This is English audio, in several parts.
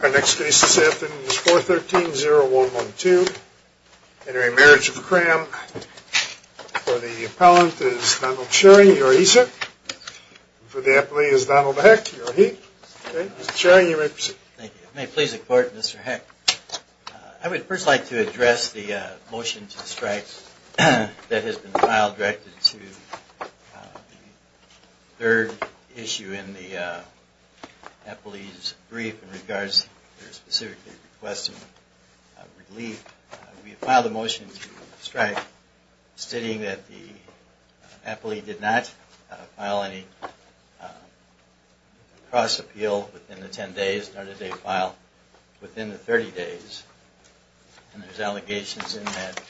Our next case this afternoon is 413-0112. Entering Marriage of Cramm. For the appellant is Donald Shearing, you are he, sir. For the appellee is Donald Heck, you are he. Shearing, you may proceed. Thank you. May it please the court, Mr. Heck. I would first like to address the motion to strike that has been filed directed to the third issue in the appellee's brief in regards to their specific request of relief. We filed a motion to strike stating that the appellee did not file any cross appeal within the 10 days, nor did they file within the 30 days. And there's allegations in that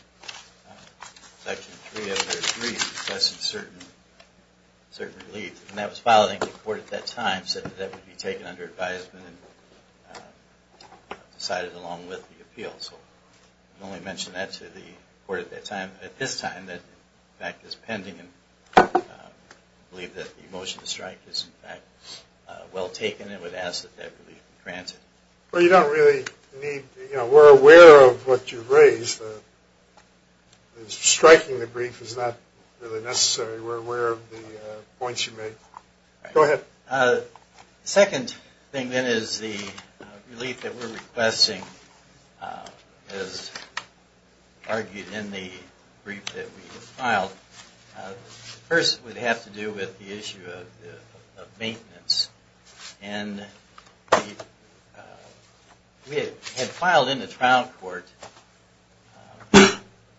section 3 of their brief discussing certain relief. And that was filed and the court at that time said that that would be taken under advisement and decided along with the appeal. So I can only mention that to the court at this time that in fact is pending and believe that the motion to strike is in fact well taken and would ask that that relief be granted. Well, you don't really need, you know, we're aware of what you've raised. Striking the brief is not really necessary. We're aware of the points you made. Go ahead. Second thing then is the relief that we're requesting as argued in the brief that we filed. First would have to do with the issue of maintenance. And we had filed in the trial court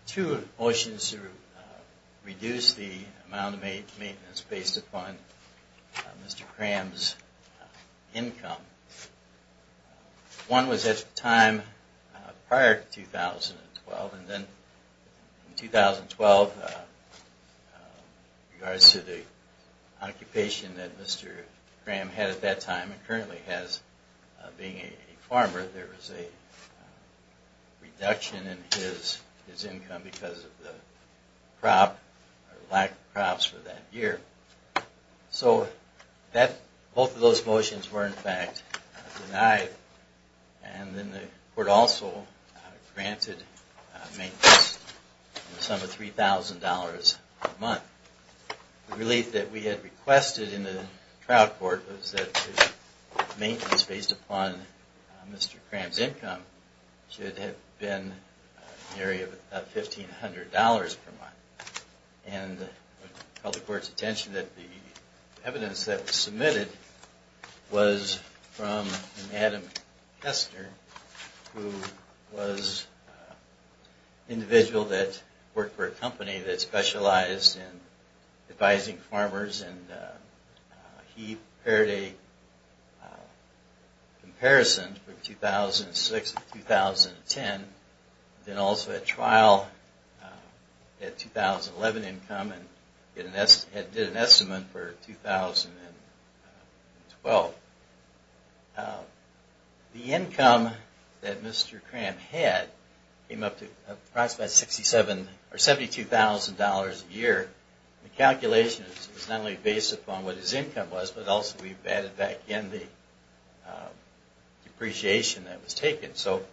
two motions to reduce the amount of maintenance based upon Mr. Cram's income. One was at the time prior to 2012 and then in 2012 in regards to the occupation that Mr. Cram had at that time and currently has being a farmer, there was a reduction in his income because of the crop or lack of crops for that year. So both of those motions were in fact denied. And then the court also granted maintenance in the sum of $3,000 per month. The relief that we had requested in the trial court was that the maintenance based upon Mr. Cram's income should have been an area of about $1,500 per month. And called the court's attention that the evidence that was submitted was from Adam Kester, who was an individual that worked for a company that specialized in advising farmers. And he prepared a comparison from 2006 to 2010. Then also at trial he had 2011 income and did an estimate for 2012. The income that Mr. Cram had came up to approximately $72,000 a year. The calculation is not only based upon what his income was, but also we've added back in the depreciation that was taken. So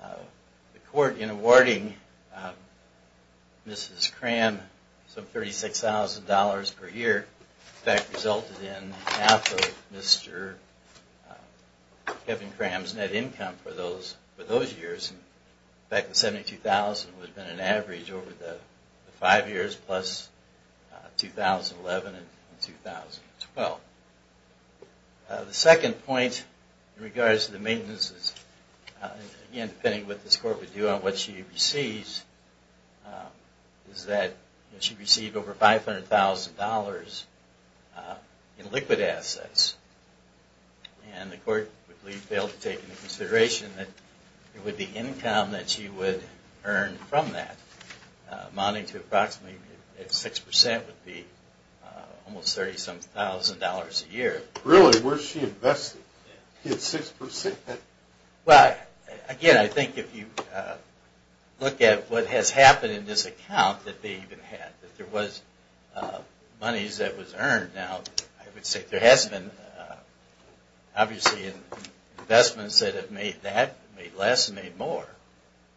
the court in awarding Mrs. Cram some $36,000 per year in fact resulted in half of Mr. Kevin Cram's net income for those years. $72,000 was an average over the five years plus 2011 and 2012. The second point in regards to the maintenance, again depending on what this court would do on what she receives, is that she received over $500,000 in liquid assets. And the court would be able to take into consideration that it would be income that she would earn from that. Amounting to approximately 6% would be almost $30,000 a year. Really? Where is she investing? Again, I think if you look at what has happened in this account that they even had, that there was monies that was earned. Now, I would say there has been obviously investments that have made that, made less, made more.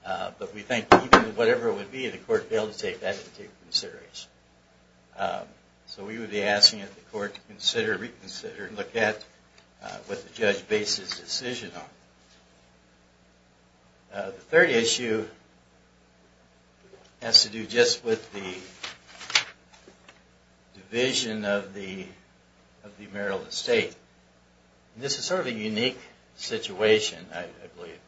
But we think even whatever it would be, the court would be able to take that into consideration. So we would be asking that the court consider, reconsider, look at what the judge bases the decision on. The third issue has to do just with the division of the Maryland State. This is sort of a unique situation, I believe.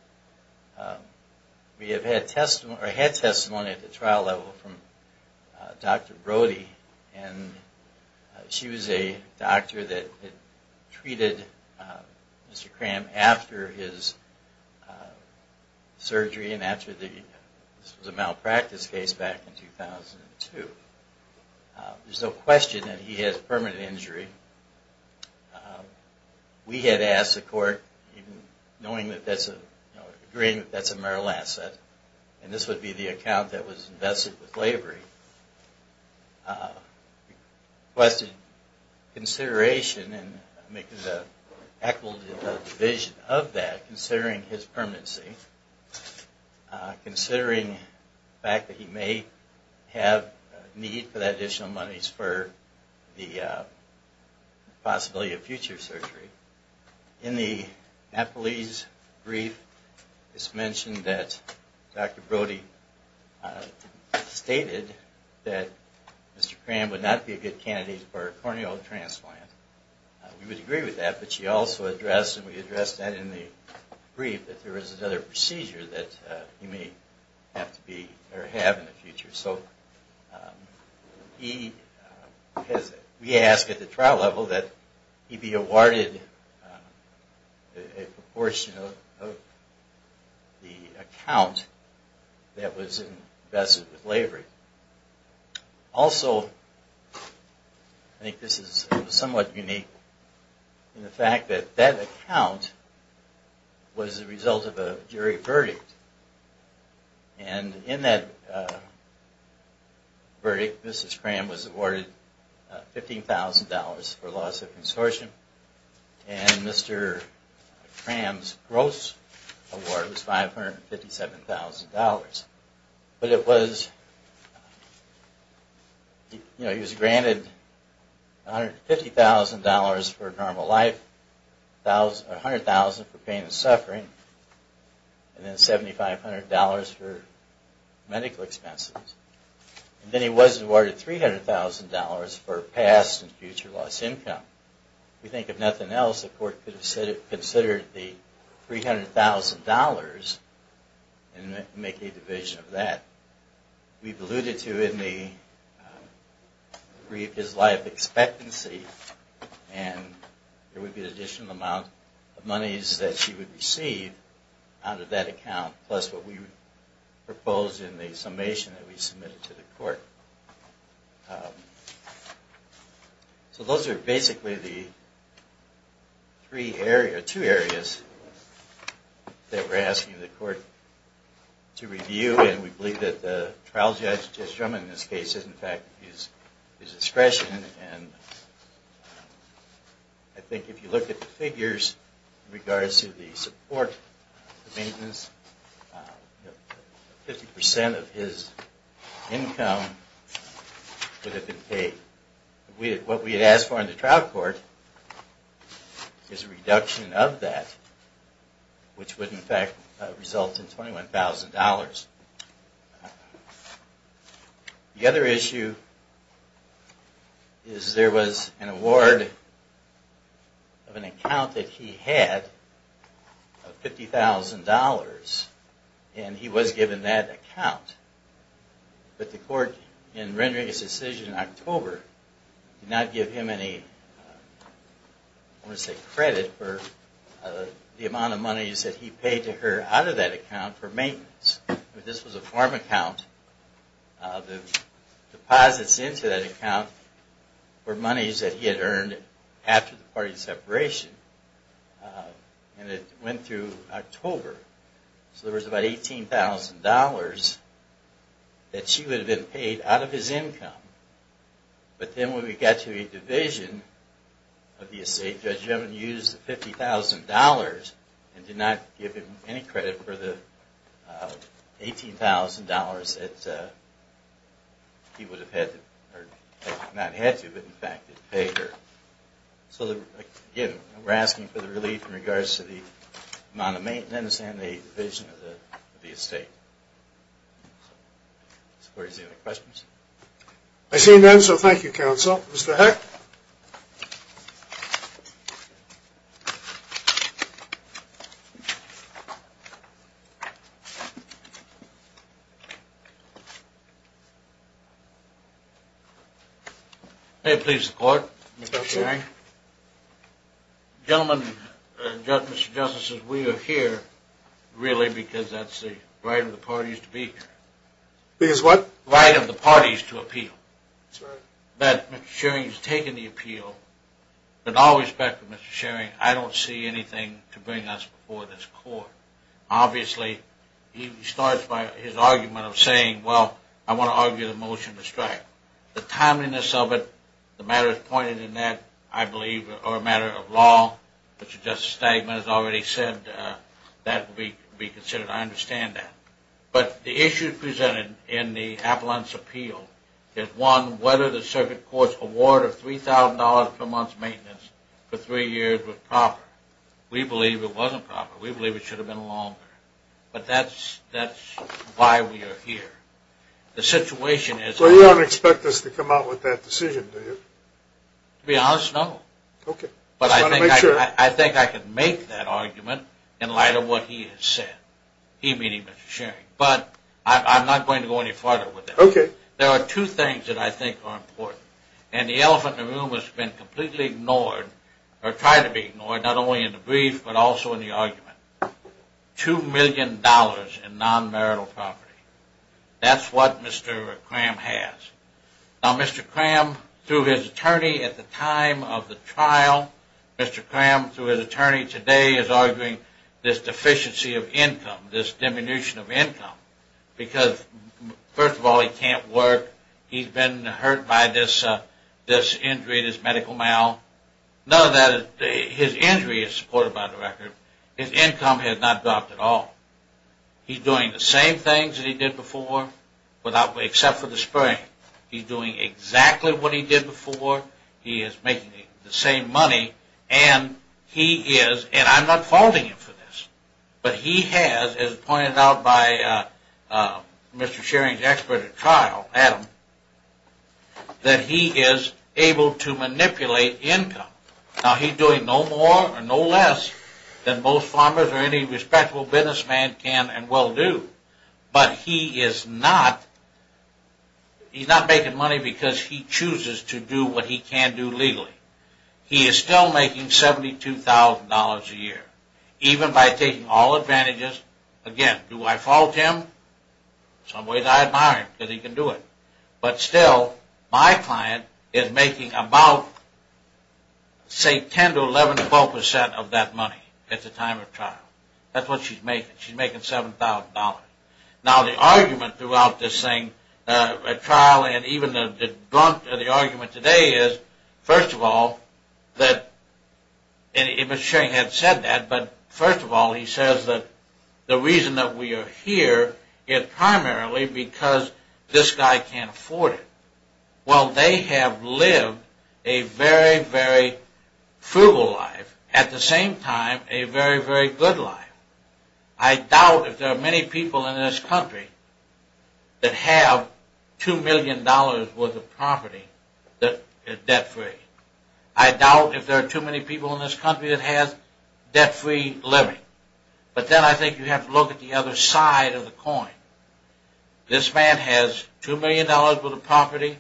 We have had testimony at the trial level from Dr. Brody. And she was a doctor that treated Mr. Cram after his surgery and after the malpractice case back in 2002. There is no question that he has permanent injury. We had asked the court, knowing that that's a, agreeing that that's a marital asset, and this would be the account that was invested with slavery, requested consideration and make an equitable division of that, considering his permanency, considering the fact that he may have need for that additional monies for the possibility of future surgery. In the Napolese brief, it's mentioned that Dr. Brody stated that Mr. Cram would not be a good candidate for a corneal transplant. We would agree with that, but she also addressed, and we addressed that in the brief, that there is another procedure that he may have to be, or have in the future. So he has, we asked at the trial level that he be awarded a proportion of the account that was invested with slavery. Also, I think this is somewhat unique, in the fact that that account was the result of a jury verdict. And in that verdict, Mrs. Cram was awarded $15,000 for loss of consortium, and Mr. Cram's gross award was $557,000. But it was, you know, he was granted $150,000 for normal life, $100,000 for pain and suffering, and then $7,500 for medical expenses. And then he was awarded $300,000 for past and future loss of income. We think, if nothing else, the court could have considered the $300,000 and make a division of that. We've alluded to, in the brief, his life expectancy, and there would be an additional amount of monies that she would receive out of that account, plus what we proposed in the summation that we submitted to the court. So those are basically the three areas, two areas, that we're asking the court to review, and we believe that the trial judge, Judge Drummond, in this case, is, in fact, his discretion. And I think if you look at the figures in regards to the support, the maintenance, 50% of his income would have been paid. What we had asked for in the trial court is a reduction of that, which would, in fact, result in $21,000. The other issue is there was an award of an account that he had of $50,000, and he was given that account. But the court, in rendering its decision in October, did not give him any credit for the amount of monies that he paid to her out of that account for maintenance. This was a farm account. The deposits into that account were monies that he had earned after the parting separation, and it went through October. So there was about $18,000 that she would have been paid out of his income. But then when we got to a division of the estate, Judge Drummond used the $50,000 and did not give him any credit for the $18,000 that he would have had to, or not had to, but in fact had paid her. So, again, we're asking for the relief in regards to the amount of maintenance and the division of the estate. Does the court have any other questions? I see none, so thank you, Counsel. Mr. Heck? Thank you. May it please the Court, Mr. Shearing? Gentlemen, Mr. Justice, we are here really because that's the right of the parties to be here. Because what? That's right. We've taken the appeal. With all respect, Mr. Shearing, I don't see anything to bring us before this Court. Obviously, he starts by his argument of saying, well, I want to argue the motion to strike. The timeliness of it, the matters pointed in that, I believe, are a matter of law. Mr. Justice Stegman has already said that will be considered. I understand that. But the issue presented in the appellant's appeal is, one, whether the circuit court's award of $3,000 per month maintenance for three years was proper. We believe it wasn't proper. We believe it should have been longer. But that's why we are here. The situation is... Well, you don't expect us to come out with that decision, do you? To be honest, no. Okay. But I think I can make that argument in light of what he has said. He meaning Mr. Shearing. But I'm not going to go any farther with that. Okay. There are two things that I think are important. And the elephant in the room has been completely ignored, or tried to be ignored, not only in the brief but also in the argument. $2 million in non-marital property. That's what Mr. Cram has. Now, Mr. Cram, through his attorney at the time of the trial, Mr. Cram, through his attorney today, he is arguing this deficiency of income, this diminution of income. Because, first of all, he can't work. He's been hurt by this injury, this medical mal. None of that is... His injury is supported by the record. His income has not dropped at all. He's doing the same things that he did before, except for the spraying. He's doing exactly what he did before. He is making the same money. And he is... And I'm not faulting him for this. But he has, as pointed out by Mr. Shearing's expert at trial, Adam, that he is able to manipulate income. Now, he's doing no more or no less than most farmers or any respectable businessman can and will do. But he is not... He's not making money because he chooses to do what he can do legally. He is still making $72,000 a year, even by taking all advantages. Again, do I fault him? In some ways, I admire him because he can do it. But still, my client is making about, say, 10 to 11, 12 percent of that money at the time of trial. That's what she's making. She's making $7,000. Now, the argument throughout this thing, trial and even the argument today is, first of all, that... And Mr. Shearing had said that, but first of all, he says that the reason that we are here is primarily because this guy can't afford it. Well, they have lived a very, very frugal life. At the same time, a very, very good life. I doubt if there are many people in this country that have $2 million worth of property that is debt-free. I doubt if there are too many people in this country that has debt-free living. But then I think you have to look at the other side of the coin. This man has $2 million worth of property.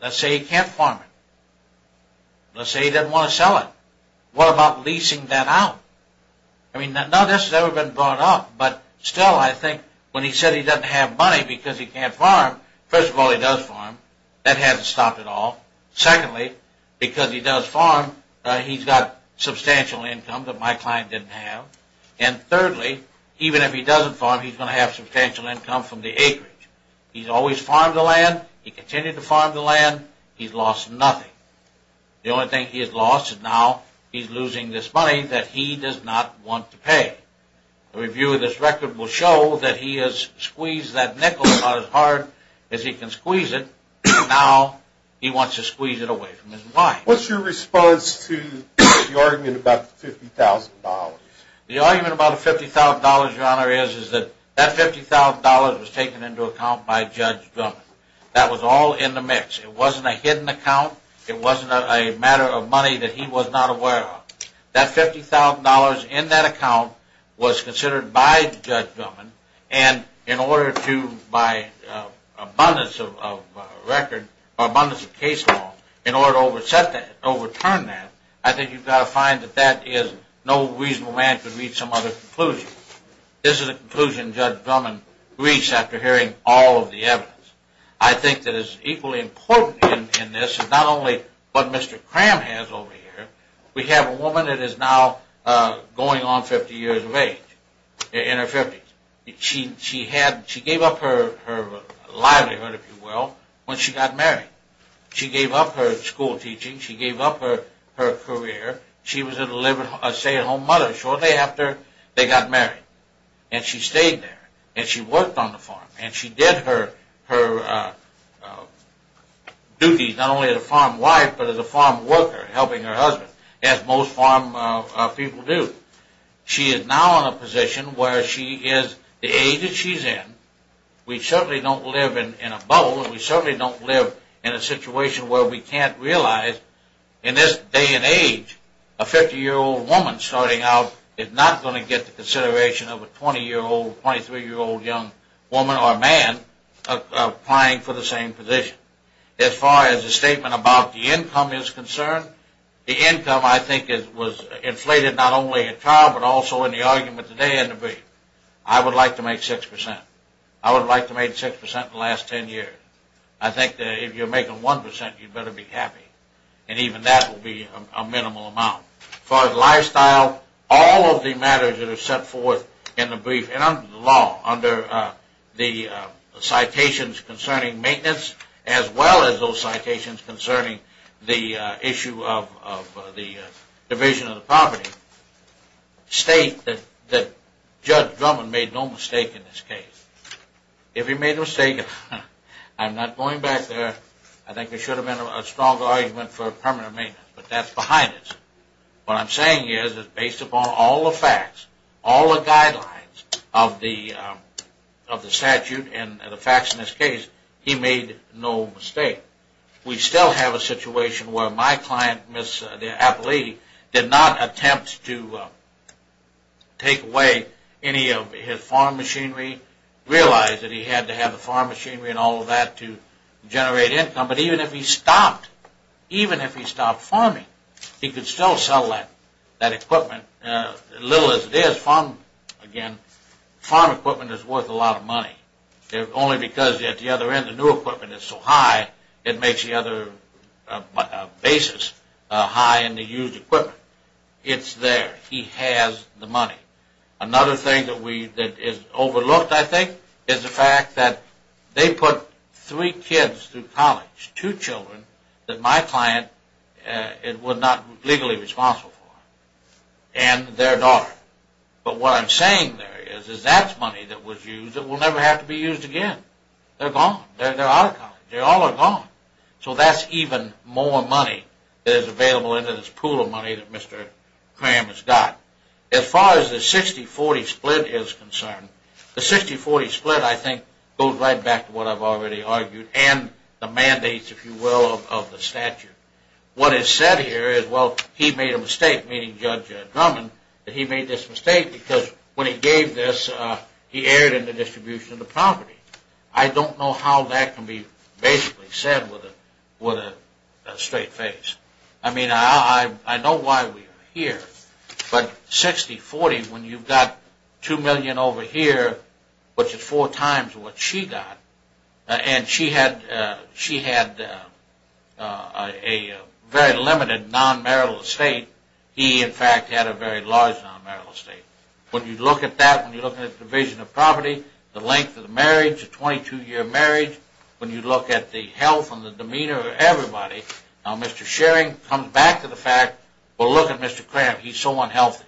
Let's say he can't farm it. Let's say he doesn't want to sell it. What about leasing that out? I mean, none of this has ever been brought up. But still, I think when he said he doesn't have money because he can't farm, first of all, he does farm. That hasn't stopped it all. Secondly, because he does farm, he's got substantial income that my client didn't have. And thirdly, even if he doesn't farm, he's going to have substantial income from the acreage. He's always farmed the land. He continued to farm the land. He's lost nothing. The only thing he has lost is now he's losing this money that he does not want to pay. A review of this record will show that he has squeezed that nickel about as hard as he can squeeze it. Now he wants to squeeze it away from his wife. What's your response to the argument about the $50,000? The argument about the $50,000, Your Honor, is that that $50,000 was taken into account by Judge Drummond. That was all in the mix. It wasn't a hidden account. It wasn't a matter of money that he was not aware of. That $50,000 in that account was considered by Judge Drummond. And in order to, by abundance of record or abundance of case law, in order to overset that, overturn that, I think you've got to find that that is no reasonable man could reach some other conclusion. This is a conclusion Judge Drummond reached after hearing all of the evidence. I think that is equally important in this is not only what Mr. Cram has over here. We have a woman that is now going on 50 years of age, in her 50s. She gave up her livelihood, if you will, when she got married. She gave up her school teaching. She gave up her career. She was a stay-at-home mother shortly after they got married. And she stayed there. And she worked on the farm. And she did her duties not only as a farm wife but as a farm worker, helping her husband, as most farm people do. She is now in a position where she is the age that she's in. We certainly don't live in a bubble. We certainly don't live in a situation where we can't realize in this day and age a 50-year-old woman starting out is not going to get the consideration of a 20-year-old, 23-year-old young woman or man applying for the same position. As far as the statement about the income is concerned, the income I think was inflated not only at trial but also in the argument today in the brief. I would like to make 6%. I would like to make 6% in the last 10 years. I think that if you're making 1%, you'd better be happy. And even that will be a minimal amount. As far as lifestyle, all of the matters that are set forth in the brief and under the law, under the citations concerning maintenance as well as those citations concerning the issue of the division of the property, state that Judge Drummond made no mistake in this case. If he made a mistake, I'm not going back there. I think there should have been a stronger argument for permanent maintenance. But that's behind us. What I'm saying is that based upon all the facts, all the guidelines of the statute and the facts in this case, he made no mistake. We still have a situation where my client, the appellee, did not attempt to take away any of his farm machinery, realize that he had to have the farm machinery and all of that to generate income. But even if he stopped, even if he stopped farming, he could still sell that equipment. Little as it is, farm equipment is worth a lot of money. Only because at the other end the new equipment is so high, it makes the other basis high in the used equipment. It's there. He has the money. Another thing that is overlooked, I think, is the fact that they put three kids through college, two children that my client was not legally responsible for, and their daughter. But what I'm saying there is that's money that was used that will never have to be used again. They're gone. They're out of college. They all are gone. So that's even more money that is available in this pool of money that Mr. Cram has got. As far as the 60-40 split is concerned, the 60-40 split, I think, goes right back to what I've already argued and the mandates, if you will, of the statute. What is said here is, well, he made a mistake, meaning Judge Drummond, that he made this mistake because when he gave this, he erred in the distribution of the property. I don't know how that can be basically said with a straight face. I mean, I know why we are here. But 60-40, when you've got $2 million over here, which is four times what she got, and she had a very limited non-marital estate. He, in fact, had a very large non-marital estate. When you look at that, when you look at the division of property, the length of the marriage, the 22-year marriage, when you look at the health and the demeanor of everybody, now Mr. Schering comes back to the fact, well, look at Mr. Cram. He's so unhealthy.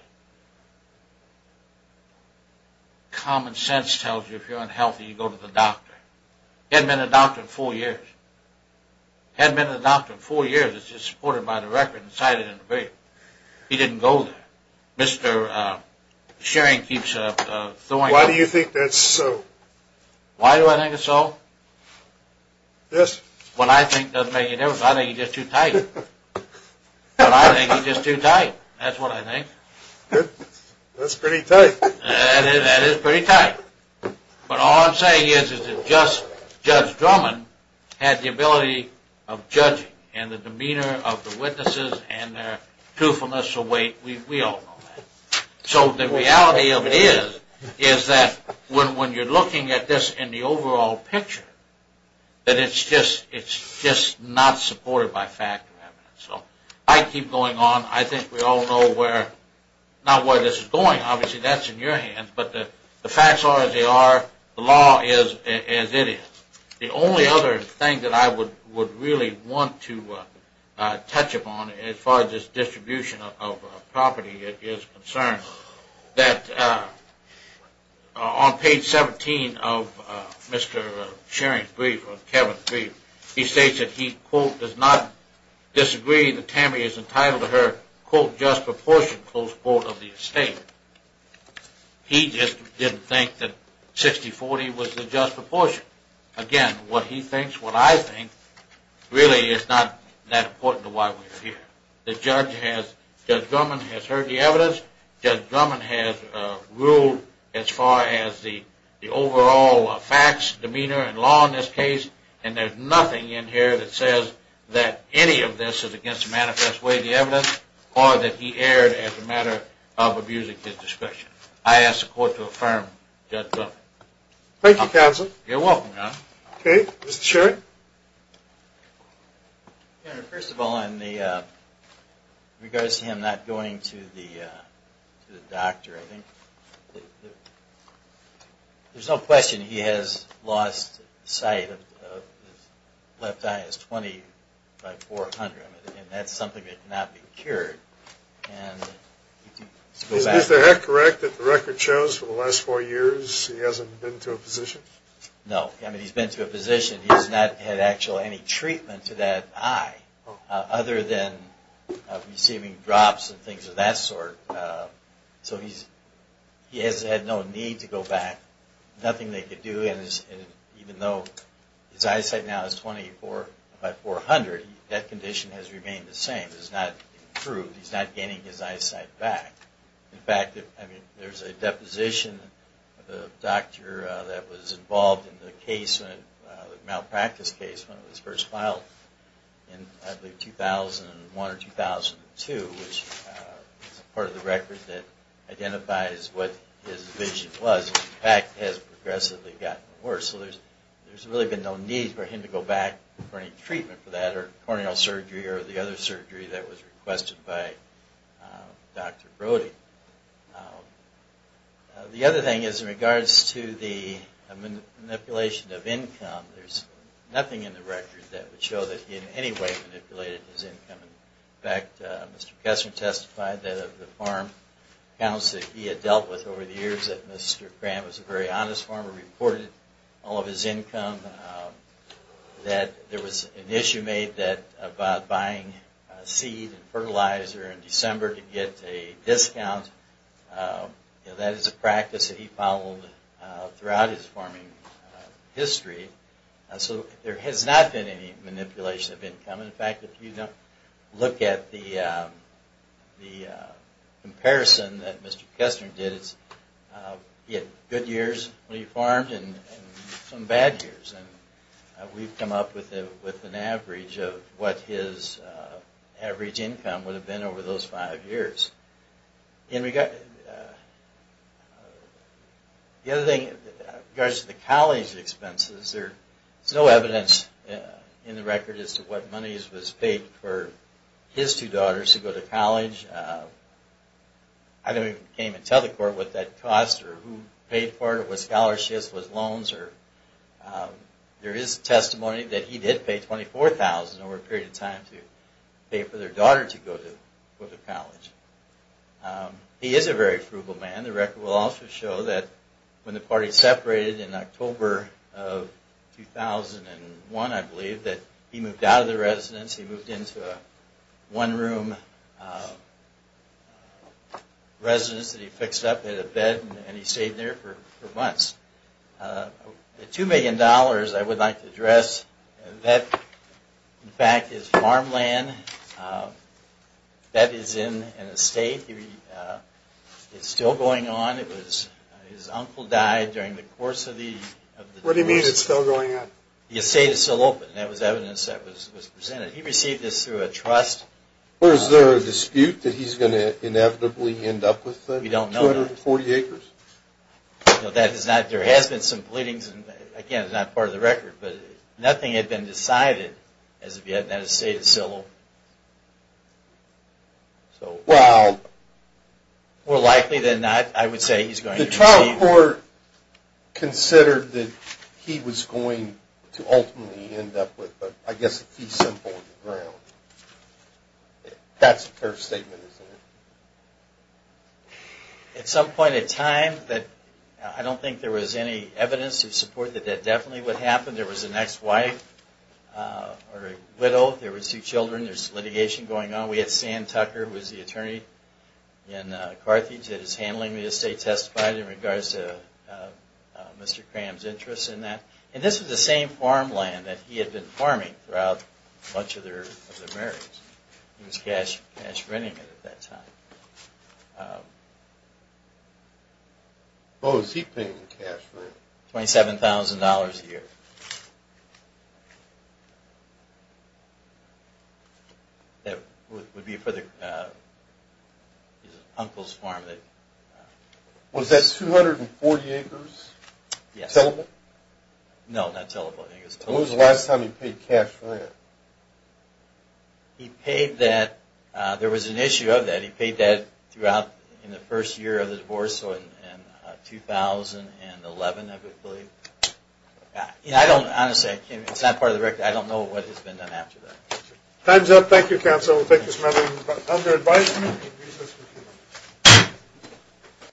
Common sense tells you if you're unhealthy, you go to the doctor. He hadn't been to the doctor in four years. He hadn't been to the doctor in four years. It's just supported by the record and cited in the bill. He didn't go there. Mr. Schering keeps throwing up. Why do you think that's so? Why do I think it's so? Yes. What I think doesn't make a difference. I think it's just too tight. I think it's just too tight. That's what I think. That's pretty tight. That is pretty tight. But all I'm saying is that Judge Drummond had the ability of judging, and the demeanor of the witnesses and their truthfulness of weight, we all know that. So the reality of it is that when you're looking at this in the overall picture, that it's just not supported by fact. So I keep going on. I think we all know where, not where this is going. Obviously, that's in your hands. But the facts are as they are. The law is as it is. The only other thing that I would really want to touch upon as far as this distribution of property is concerned, that on page 17 of Mr. Shearing's brief or Kevin's brief, he states that he, quote, does not disagree that Tammy is entitled to her, quote, just proportion, close quote, of the estate. He just didn't think that 60-40 was the just proportion. Again, what he thinks, what I think, really is not that important to why we're here. Judge Drummond has heard the evidence. Judge Drummond has ruled as far as the overall facts, demeanor, and law in this case, and there's nothing in here that says that any of this is against the manifest way of the evidence or that he erred as a matter of abusing his discretion. I ask the Court to affirm Judge Drummond. Thank you, counsel. You're welcome, John. Okay. Mr. Shearing? Your Honor, first of all, in regards to him not going to the doctor, I think there's no question he has lost sight of his left eye. It's 20 by 400, and that's something that cannot be cured. Is the head correct that the record shows for the last four years he hasn't been to a physician? No. I mean, he's been to a physician. He's not had actually any treatment to that eye other than receiving drops and things of that sort. So he has had no need to go back, nothing they could do, and even though his eyesight now is 20 by 400, that condition has remained the same. It's not improved. He's not getting his eyesight back. In fact, there's a deposition of a doctor that was involved in the malpractice case when it was first filed in, I believe, 2001 or 2002, which is part of the record that identifies what his vision was. In fact, it has progressively gotten worse. So there's really been no need for him to go back for any treatment for that or the other surgery that was requested by Dr. Brody. The other thing is in regards to the manipulation of income, there's nothing in the record that would show that he in any way manipulated his income. In fact, Mr. Kessler testified that of the farm accounts that he had dealt with over the years, that Mr. Grant was a very honest farmer, reported all of his income, that there was an issue made about buying seed and fertilizer in December to get a discount. That is a practice that he followed throughout his farming history. So there has not been any manipulation of income. In fact, if you look at the comparison that Mr. Kessler did, he had good years when he farmed and some bad years. We've come up with an average of what his average income would have been over those five years. The other thing, in regards to the college expenses, there's no evidence in the record as to what money was paid for his two daughters to go to college. I can't even tell the court what that cost or who paid for it, if it was scholarships or loans. There is testimony that he did pay $24,000 over a period of time to pay for their daughter to go to college. He is a very frugal man. The record will also show that when the party separated in October of 2001, I believe, that he moved out of the residence. He moved into a one-room residence that he fixed up. He had a bed and he stayed there for months. The $2 million I would like to address, that in fact is farmland. That is an estate. It's still going on. His uncle died during the course of the... What do you mean it's still going on? The estate is still open. That was evidence that was presented. He received this through a trust. Or is there a dispute that he's going to inevitably end up with the 240 acres? We don't know that. That is not... There has been some pleadings, and again, it's not part of the record, but nothing had been decided as of yet. That estate is still open. Well... More likely than not, I would say he's going to receive... Has the trial court considered that he was going to ultimately end up with, I guess, a fee simple on the ground? That's a fair statement, isn't it? At some point in time, I don't think there was any evidence of support that that definitely would happen. There was an ex-wife or a widow. There were two children. There's litigation going on. We had Sam Tucker, who was the attorney in Carthage, that is handling the estate, testified in regards to Mr. Cram's interest in that. And this was the same farmland that he had been farming throughout much of their marriage. He was cash-renting it at that time. Oh, was he paying the cash rent? $27,000 a year. That would be for his uncle's farm. Was that 240 acres? Yes. Tellable? No, not tellable. When was the last time he paid cash rent? He paid that... There was an issue of that. He paid that throughout in the first year of the divorce, so in 2011, I believe. Honestly, it's not part of the record. I don't know what has been done after that. Time's up. Thank you, counsel. We'll take this matter under advisement.